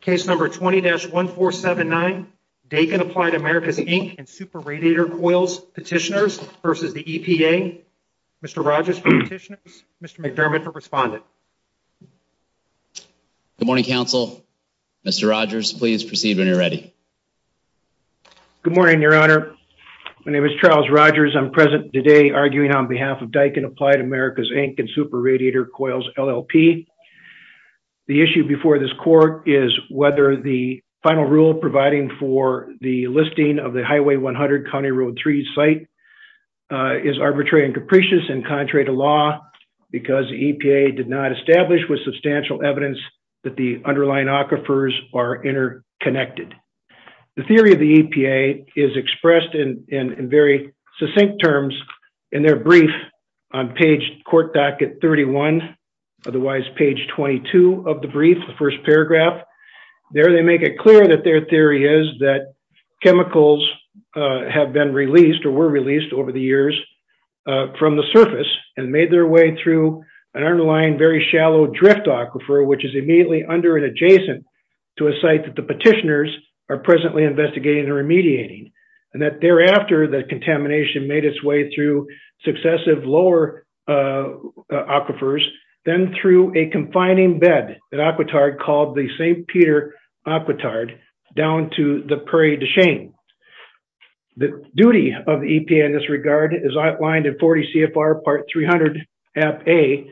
Case number 20-1479, Daikin Applied Americas Inc. and Super Radiator Coils Petitioners versus the EPA. Mr. Rogers for petitioners, Mr. McDermott for respondent. Good morning, counsel. Mr. Rogers, please proceed when you're ready. Good morning, your honor. My name is Charles Rogers. I'm present today arguing on behalf of whether the final rule providing for the listing of the Highway 100 County Road 3 site is arbitrary and capricious and contrary to law because the EPA did not establish with substantial evidence that the underlying aquifers are interconnected. The theory of the EPA is expressed in very succinct terms in their brief on page court docket 31, otherwise page 22 of the brief, the first paragraph. There they make it clear that their theory is that chemicals have been released or were released over the years from the surface and made their way through an underlying very shallow drift aquifer, which is immediately under and adjacent to a site that the petitioners are presently investigating and remediating. And that thereafter the contamination made its way through successive lower aquifers, then through a aquitard called the St. Peter aquitard down to the Prairie du Chien. The duty of the EPA in this regard is outlined in 40 CFR part 300 app A.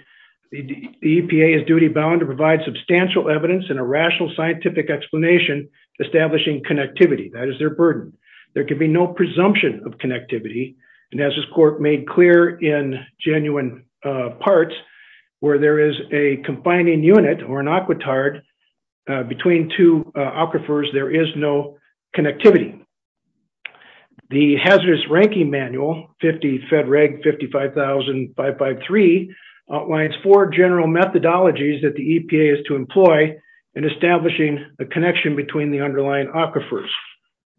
The EPA is duty bound to provide substantial evidence and a rational scientific explanation, establishing connectivity. That is their burden. There can be no presumption of connectivity. And as this court made clear in genuine parts, where there is a confining unit or an aquitard between two aquifers, there is no connectivity. The hazardous ranking manual, 50 Fed Reg 55,553 outlines four general methodologies that the EPA is to employ in establishing a connection between the underlying aquifers.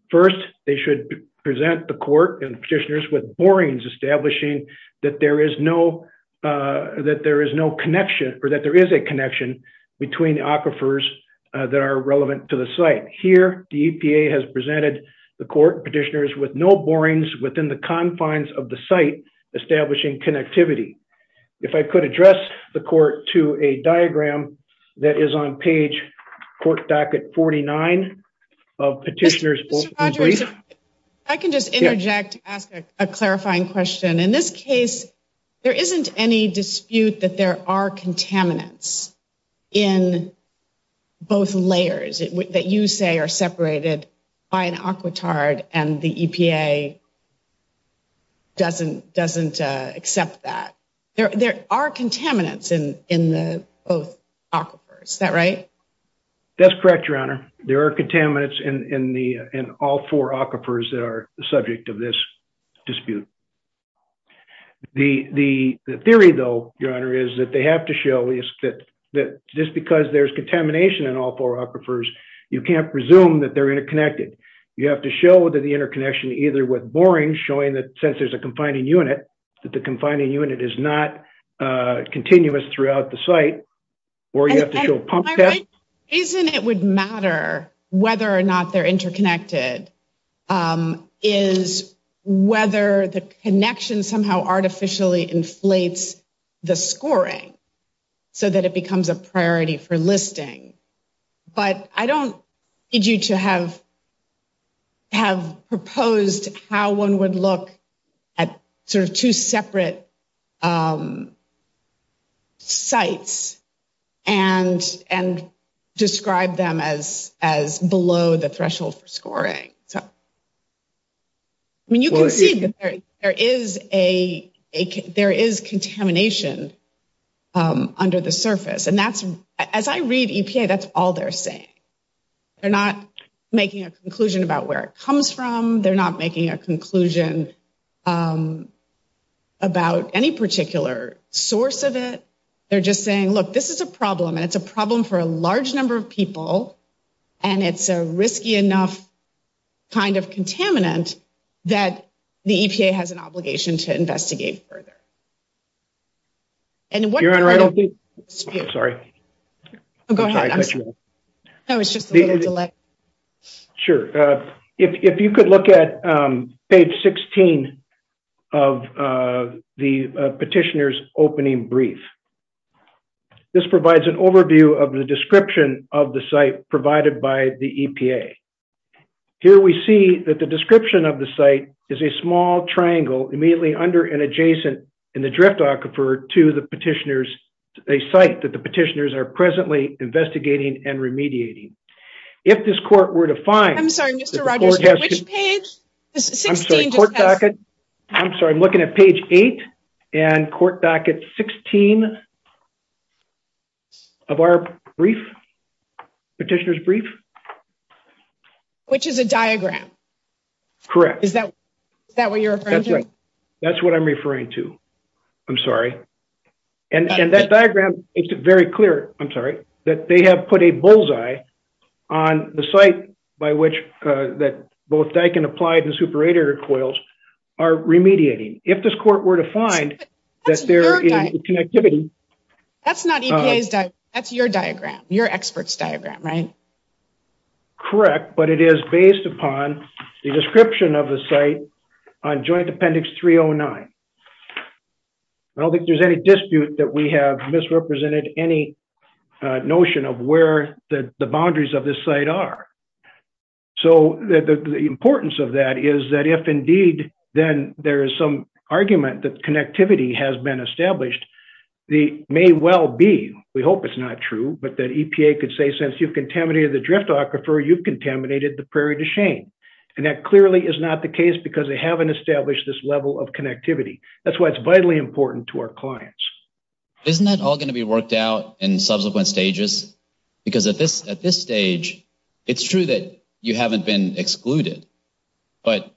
First, they should present the court and petitioners with borings, establishing that there is no connection or that there is a connection between the aquifers that are relevant to the site. Here, the EPA has presented the court petitioners with no borings within the confines of the site, establishing connectivity. If I could address the court to a diagram that is on page court docket 49 of petitioners. I can just interject, ask a clarifying question. In this case, there isn't any dispute that there are contaminants in both layers that you say are separated by an aquitard and the EPA doesn't accept that. There are contaminants in the aquifers. Is that right? That's correct, your honor. There are contaminants in all four aquifers that are the subject of this dispute. The theory though, your honor, is that they have to show just because there's contamination in all four aquifers, you can't presume that they're interconnected. You have to show that the interconnection either with boring showing that since there's a confining unit, that the confining unit is not continuous throughout the or you have to do a pop test. The reason it would matter whether or not they're interconnected is whether the connection somehow artificially inflates the scoring so that it becomes a priority for listing. But I don't need you to have proposed how one would look at two separate sites and describe them as below the threshold for scoring. I mean, you can see that there is contamination under the surface. As I read EPA, that's all they're saying. They're not making a conclusion about where it comes from. They're not making a source of it. They're just saying, look, this is a problem and it's a problem for a large number of people. And it's a risky enough kind of contaminant that the EPA has an obligation to investigate further. Your honor, I don't think... Sorry. Go ahead. I'm sorry. No, it's brief. This provides an overview of the description of the site provided by the EPA. Here we see that the description of the site is a small triangle immediately under and adjacent in the drift aquifer to the petitioners, a site that the petitioners are presently investigating and remediating. If this court were to find... I'm sorry, Mr. Rogers, which page? 16. I'm sorry. I'm looking at page eight and court docket 16 of our brief, petitioner's brief. Which is a diagram. Correct. Is that what you're referring to? That's what I'm referring to. I'm sorry. And that diagram makes it very clear, I'm sorry, that they have put a bullseye on the site by which both Daikin Applied and Super radiator coils are remediating. If this court were to find that there is a connectivity... That's not EPA's diagram. That's your diagram, your expert's diagram, right? Correct. But it is based upon the description of the site on joint appendix 309. I don't think there's any dispute that we have misrepresented any notion of where the boundaries of this site are. So the importance of that is that if indeed, then there is some argument that connectivity has been established, the may well be, we hope it's not true, but that EPA could say, since you've contaminated the drift aquifer, you've contaminated the Prairie du Chien. And that clearly is not the case because they haven't established this level of connectivity. That's why it's vitally important to our clients. Isn't that all going to be worked out in subsequent stages? Because at this stage, it's true that you haven't been excluded, but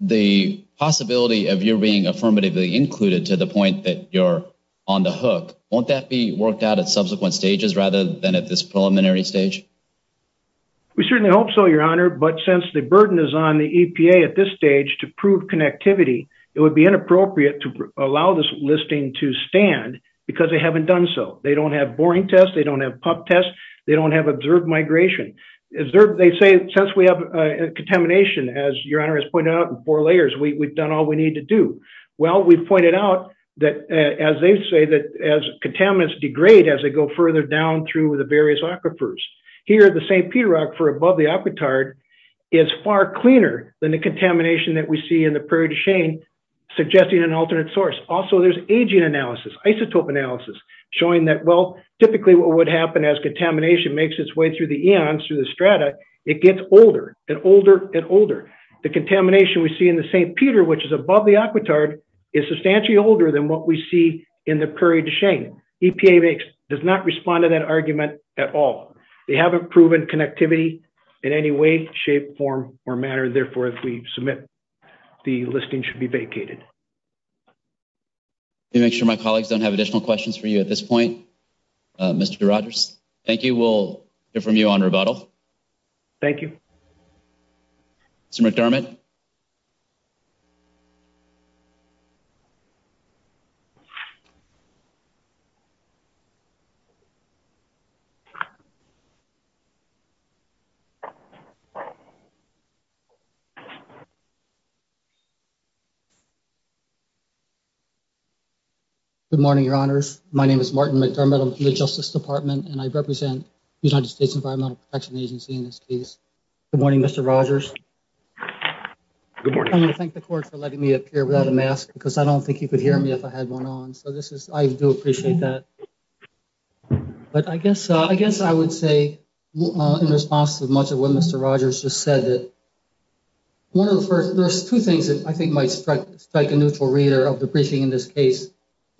the possibility of you being affirmatively included to the point that you're on the hook, won't that be worked out at subsequent stages rather than at this preliminary stage? We certainly hope so, your honor. But since the burden is on the listing to stand, because they haven't done so, they don't have boring tests, they don't have pup tests, they don't have observed migration. They say since we have contamination, as your honor has pointed out in four layers, we've done all we need to do. Well, we've pointed out that as they say that as contaminants degrade as they go further down through the various aquifers. Here at the St. Peter aquifer above the aquitard is far cleaner than the contamination that we see in the Prairie du Chien, suggesting an alternate source. Also, there's aging analysis, isotope analysis showing that, well, typically what would happen as contamination makes its way through the eons, through the strata, it gets older and older and older. The contamination we see in the St. Peter, which is above the aquitard, is substantially older than what we see in the Prairie du Chien. EPA does not respond to that argument at all. They haven't proven connectivity in any way, shape, form, or matter. Therefore, if we submit, the listing should be vacated. Let me make sure my colleagues don't have additional questions for you at this point, Mr. Rogers. Thank you. We'll hear from you on rebuttal. Thank you. Mr. McDermott. Good morning, Your Honors. My name is Martin McDermott. I'm from the Justice Department, and I represent the United States Environmental Protection Agency in this case. Good morning, Mr. Rogers. Good morning. I want to thank the court for letting me appear without a mask because I don't think you could hear me if I had one on. So this is, I do appreciate that. But I guess, I guess I would say in response to much of what Mr. Rogers just said, that one of the first, there's two things that I think might strike a neutral reader of the briefing in this case.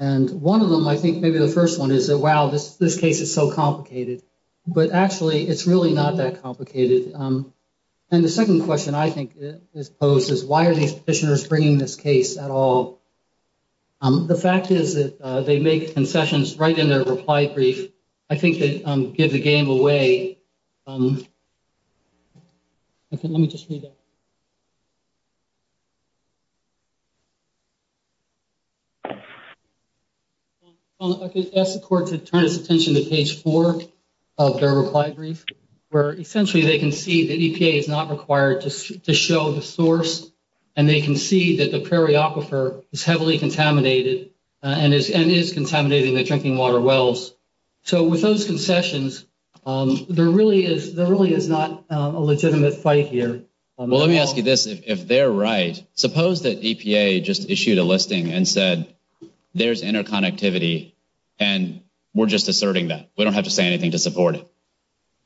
And one of them, I think, maybe the first one is that, wow, this case is so complicated. But actually, it's really not that complicated. And the second question I think is posed is, why are these petitioners bringing this case at all? The fact is that they make concessions right in their reply brief. I think they give the game away. Okay, let me just read that. I could ask the court to turn its attention to page four of their reply brief, where essentially, they can see that EPA is not required to show the source. And they can see that the Prairie Aquifer is heavily contaminated and is contaminating the There really is not a legitimate fight here. Well, let me ask you this, if they're right, suppose that EPA just issued a listing and said, there's interconnectivity. And we're just asserting that we don't have to say anything to support it.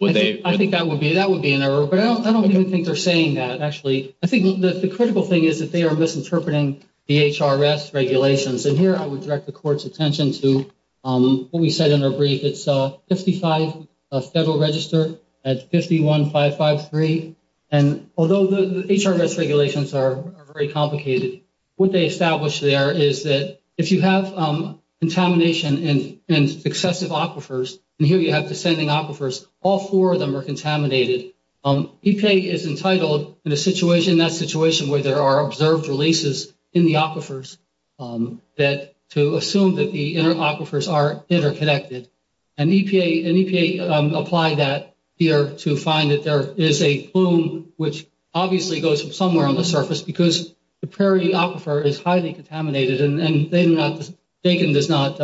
I think that would be that would be an error. But I don't even think they're saying that actually, I think the critical thing is that they are misinterpreting the HRS regulations. And here, I would direct the court's attention to what we said in our brief, it's 55 Federal Register at 51553. And although the HRS regulations are very complicated, what they established there is that if you have contamination and excessive aquifers, and here you have descending aquifers, all four of them are contaminated. EPA is entitled in a situation, that situation where there are observed releases in the aquifers, that to assume that the inner aquifers are interconnected, and EPA apply that here to find that there is a plume, which obviously goes from somewhere on the surface, because the Prairie Aquifer is highly contaminated. And they do not, Dakin does not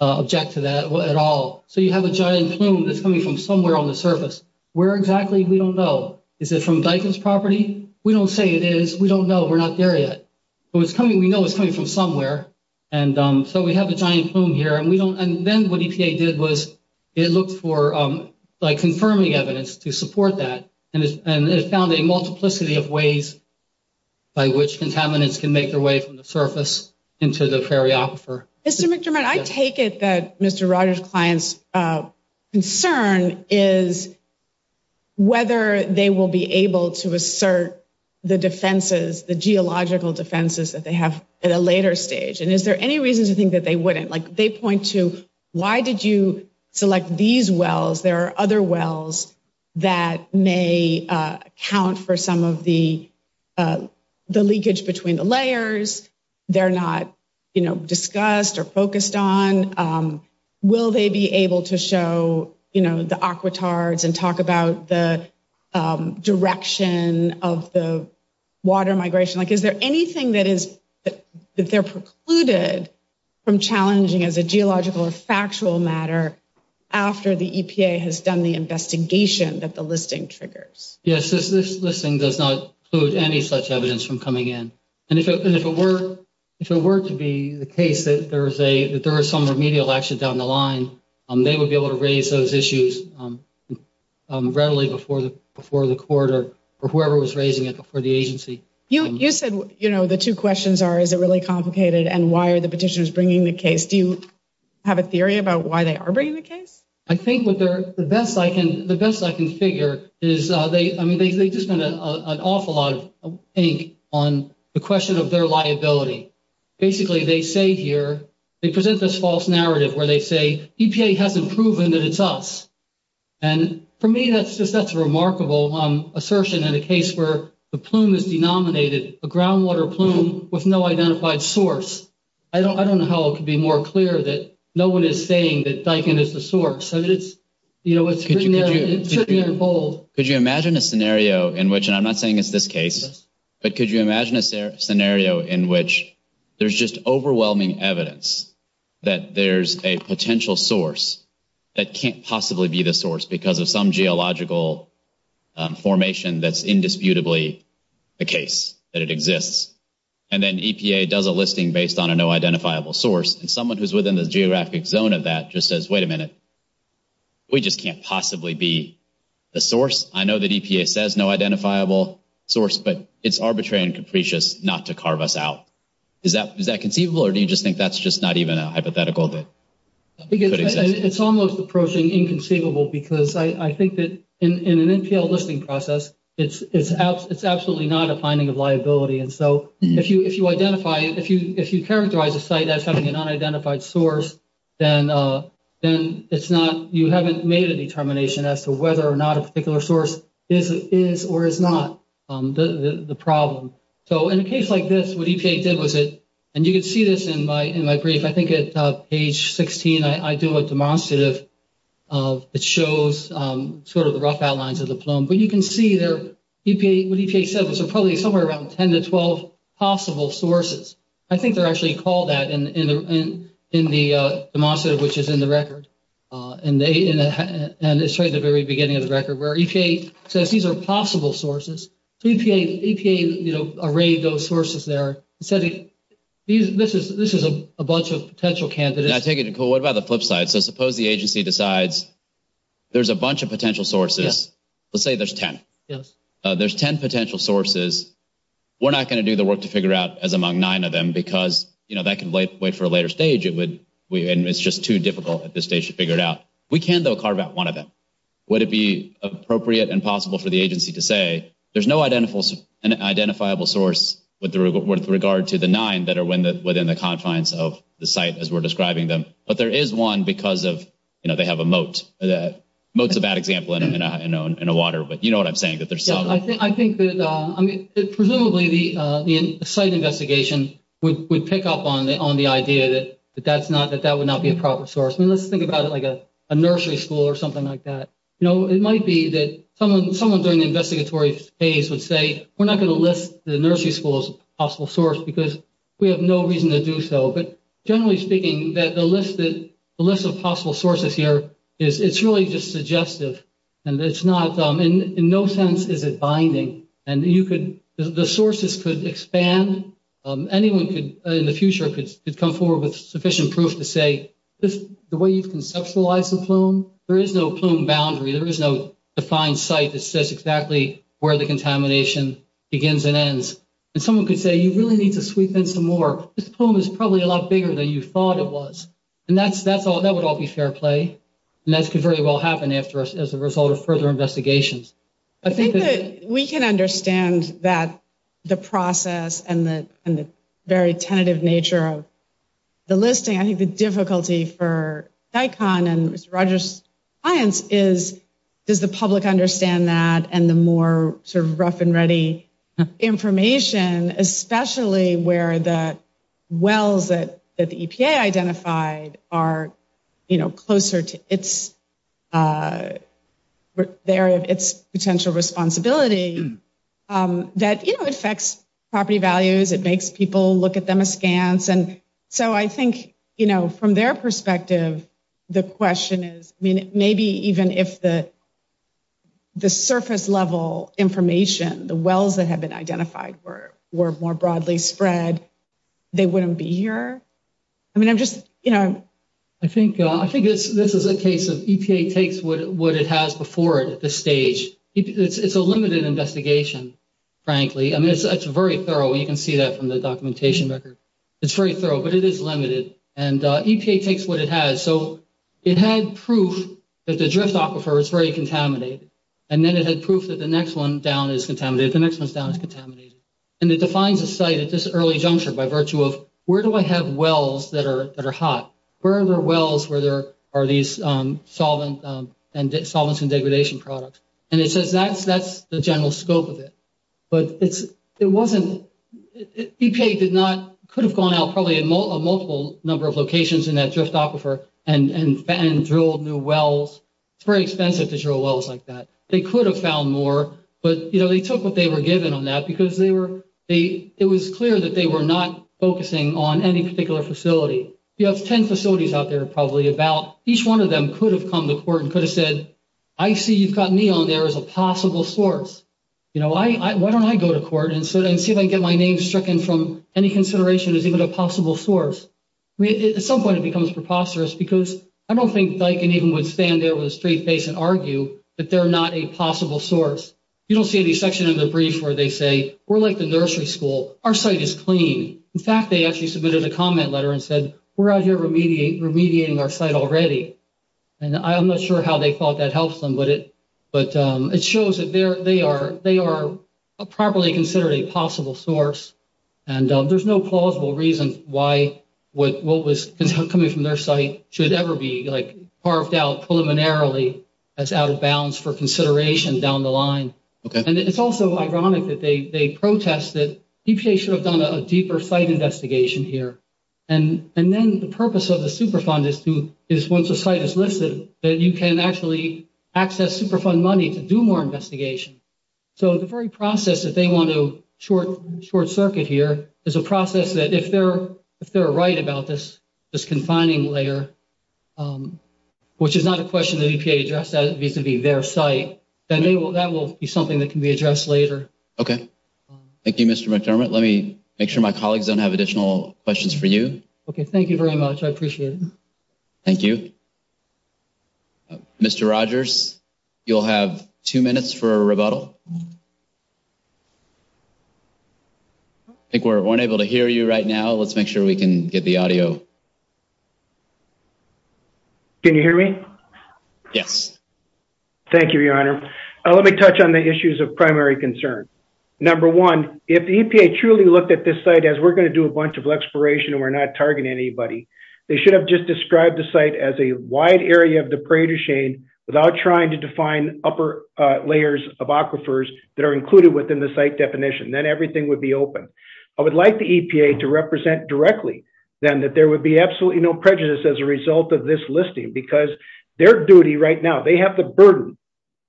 object to that at all. So you have a giant plume that's coming from somewhere on the surface. Where exactly? We don't know. Is it from Dakin's property? We don't say it is, we don't know, we're not there yet. But it's coming, we know it's coming from somewhere. And so we have a giant plume here and we don't, and then what EPA did was it looked for like confirming evidence to support that and it found a multiplicity of ways by which contaminants can make their way from the surface into the Prairie Aquifer. Mr. McDermott, I take it that Mr. Rogers' client's concern is whether they will be able to assert the defenses, the geological defenses that they have at a later stage. And is there any reason to think that they wouldn't? Like they point to, why did you select these wells? There are other wells that may account for some of the leakage between the layers. They're not discussed or water migration. Is there anything that they're precluded from challenging as a geological or factual matter after the EPA has done the investigation that the listing triggers? Yes, this listing does not include any such evidence from coming in. And if it were to be the case that there was some remedial action down the line, they would be able to raise those issues readily before the court or whoever was raising it before the agency. You said the two questions are, is it really complicated? And why are the petitioners bringing the case? Do you have a theory about why they are bringing the case? I think the best I can figure is they just spent an awful lot of ink on the question of their liability. Basically, they say here, they present this false narrative where they say EPA hasn't proven that it's us. And for me, that's just, that's a remarkable assertion in a case where the plume is denominated a groundwater plume with no identified source. I don't know how it could be more clear that no one is saying that Daikin is the source. Could you imagine a scenario in which, and I'm not saying it's this case, but could you imagine a scenario in which there's overwhelming evidence that there's a potential source that can't possibly be the source because of some geological formation that's indisputably the case that it exists. And then EPA does a listing based on a no identifiable source. And someone who's within the geographic zone of that just says, wait a minute, we just can't possibly be the source. I know that EPA says no identifiable source, but it's arbitrary and capricious not to carve us out. Is that conceivable or do you just think that's just not even a hypothetical that could exist? It's almost approaching inconceivable because I think that in an NPL listing process, it's absolutely not a finding of liability. And so if you identify, if you characterize a site as having an unidentified source, then it's not, you haven't made a determination as to whether or not a particular source is or is not the problem. So in a case like this, what EPA did was it, and you can see this in my brief, I think at page 16, I do a demonstrative of, it shows sort of the rough outlines of the plume, but you can see there, EPA, what EPA said was probably somewhere around 10 to 12 possible sources. I think they're actually called that in the demonstrative, which is in the record. And it's right at the very beginning of the record where EPA says these are possible sources. So EPA, you know, arrayed those sources there and said, this is a bunch of potential candidates. I take it, Nicole, what about the flip side? So suppose the agency decides there's a bunch of potential sources. Let's say there's 10. Yes. There's 10 potential sources. We're not going to do the work to figure out as among nine of them because, you know, that way for a later stage, it would, and it's just too difficult at this stage to figure it out. We can, though, carve out one of them. Would it be appropriate and possible for the agency to say there's no identifiable source with regard to the nine that are within the confines of the site as we're describing them? But there is one because of, you know, they have a moat. A moat's a bad example in a water, but you know what I'm saying. I think that, I mean, presumably the site investigation would pick up on the idea that that's not, that that would not be a proper source. I mean, let's think about it like a nursery school or something like that. You know, it might be that someone during the investigatory phase would say, we're not going to list the nursery school as a possible source because we have no reason to do so. But generally speaking, that the list of possible sources here is, it's really just suggestive and it's not, in no sense is it binding. And you could, the sources could expand. Anyone could, in the future, could come forward with sufficient proof to say the way you've conceptualized the plume, there is no plume boundary. There is no defined site that says exactly where the contamination begins and ends. And someone could say, you really need to sweep in some more. This plume is probably a lot bigger than you thought it was. And that's, that's all, that would all be fair play. And that could very well happen after, as a result of further investigations. I think that we can understand that the process and the, and the very tentative nature of the listing, I think the difficulty for DICON and Mr. Rogers' clients is, does the public understand that? And the more sort of rough and ready information, especially where the EPA identified are, you know, closer to its, the area of its potential responsibility, that, you know, it affects property values. It makes people look at them askance. And so I think, you know, from their perspective, the question is, I mean, maybe even if the, the surface level information, the wells that have been identified were more broadly spread, they wouldn't be here. I mean, I'm just, you know. I think, I think it's, this is a case of EPA takes what it has before it at this stage. It's a limited investigation, frankly. I mean, it's very thorough. You can see that from the documentation record. It's very thorough, but it is limited. And EPA takes what it has. So it had proof that the drift aquifer is very contaminated. And then it had proof that the next one down is contaminated. The next one down is contaminated. And it defines a site at this early juncture by virtue of where do I have wells that are, that are hot? Where are the wells where there are these solvent and solvents and degradation products? And it says that's, that's the general scope of it. But it's, it wasn't, EPA did not, could have gone out probably a multiple number of locations in that drift aquifer and drilled new wells. It's very expensive to drill wells like that. They could have found more, but, you know, they took what they were given on that because they were, they, it was clear that they were not focusing on any particular facility. You have 10 facilities out there probably about, each one of them could have come to court and could have said, I see you've got me on there as a possible source. You know, I, I, why don't I go to court and see if I can get my name stricken from any consideration as even a possible source. At some point it becomes preposterous because I don't think Diken even would stand there with a straight face and argue that they're not a possible source. You don't see any section of the brief where they say, we're like the nursery school, our site is clean. In fact, they actually submitted a comment letter and said, we're out here remediate, remediating our site already. And I'm not sure how they thought that helps them, but it, but it shows that they're, they are, they are a properly considered a possible source. And there's no plausible reason why, what, what was coming from their site should ever be like carved out preliminarily as out of bounds for consideration down the line. And it's also ironic that they, they protest that EPA should have done a deeper site investigation here. And then the purpose of the Superfund is to, is once a site is listed, that you can actually access Superfund money to do more investigation. So the very process that they want to short, short circuit here is a process that if they're, if they're right about this, this confining layer, um, which is not a question that EPA addressed as vis-a-vis their site, then they will, that will be something that can be addressed later. Okay. Thank you, Mr. McDermott. Let me make sure my colleagues don't have additional questions for you. Okay. Thank you very much. I appreciate it. Thank you. Mr. Rogers, you'll have two minutes for a rebuttal. I think we're unable to hear you right now. Let's make sure we can get the audio. Can you hear me? Yes. Thank you, Your Honor. Let me touch on the issues of primary concern. Number one, if the EPA truly looked at this site as we're going to do a bunch of exploration and we're not targeting anybody, they should have just described the site as a wide area of the parade of shame without trying to define upper layers of aquifers that are included within the site definition, then everything would be open. I would like the EPA to represent directly then that there would be absolutely no prejudice as a result of this listing because their duty right now, they have the burden,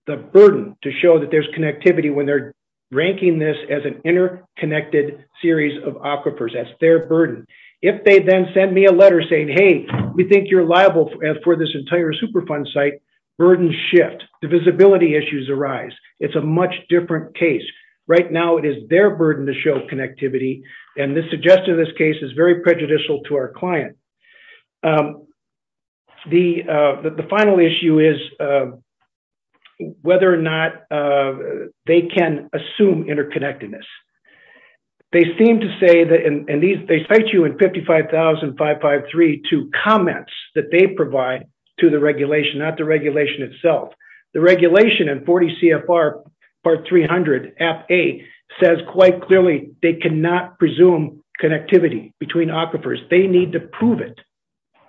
the burden to show that there's connectivity when they're ranking this as an interconnected series of aquifers. That's their burden. If they then send me a letter saying, hey, we think you're liable for this entire Superfund site, burden shift, the visibility issues arise. It's a much different case. Right now, it is their burden to show connectivity. This suggestion in this case is very prejudicial to our client. The final issue is whether or not they can assume interconnectedness. They seem to say, and they cite you in 55,553 to comments that they provide to the regulation, not the regulation itself. The regulation in 40 CFR part 300 F8 says quite clearly, they cannot presume connectivity between aquifers. They need to prove it.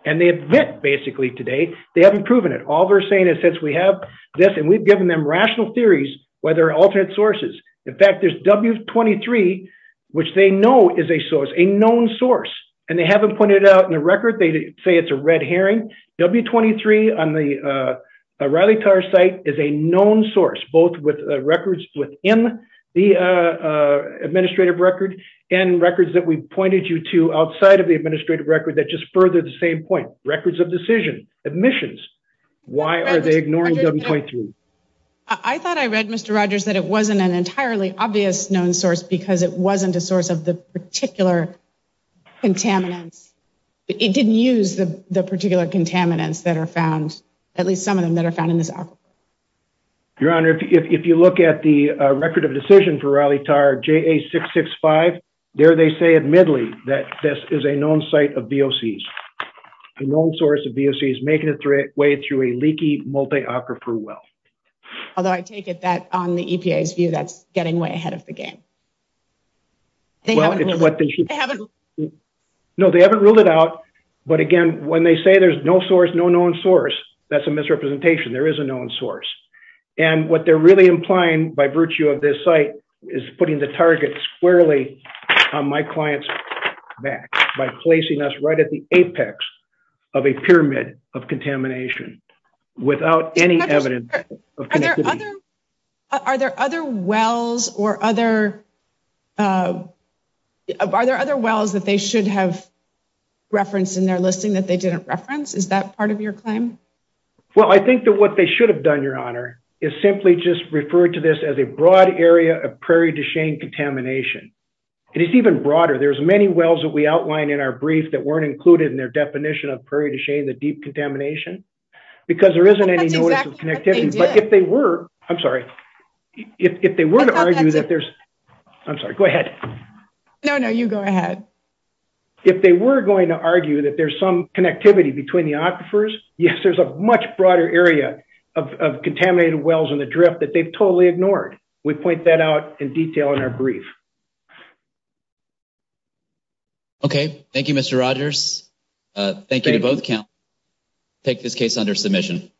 And they admit basically today, they haven't proven it. All they're saying is since we have this and we've given them rational theories, whether alternate sources, in fact, there's W23, which they know is a source, a known source, and they haven't pointed it out in the record. They say it's a red herring. W23 on the Riley Tarr site is a known source, both with records within the administrative record and records that we pointed you to outside of the administrative record that just further the same point, records of decision, admissions. Why are they ignoring W23? I thought I read, Mr. Rogers, that it wasn't an entirely obvious known source because it used the particular contaminants that are found, at least some of them that are found in this aquifer. Your Honor, if you look at the record of decision for Riley Tarr, JA665, there they say admittedly that this is a known site of VOCs, a known source of VOCs making its way through a leaky multi aquifer well. Although I take it that on the EPA's view, that's getting way ahead of them. But again, when they say there's no source, no known source, that's a misrepresentation. There is a known source. And what they're really implying by virtue of this site is putting the target squarely on my client's back by placing us right at the apex of a pyramid of contamination without any evidence of connectivity. Are there other wells that they should have referenced in their listing that they didn't reference? Is that part of your claim? Well, I think that what they should have done, Your Honor, is simply just refer to this as a broad area of Prairie du Chien contamination. And it's even broader. There's many wells that we outline in our brief that weren't included in their definition of Prairie du Chien, the deep contamination, because there isn't any notice of connectivity. But if they were, I'm sorry, if they were to argue that there's, I'm sorry, go ahead. No, no, you go ahead. If they were going to argue that there's some connectivity between the aquifers, yes, there's a much broader area of contaminated wells in the drift that they've totally ignored. We point that out in detail in our brief. Okay. Thank you, Mr. Rogers. Thank you to both counties. I take this case under submission.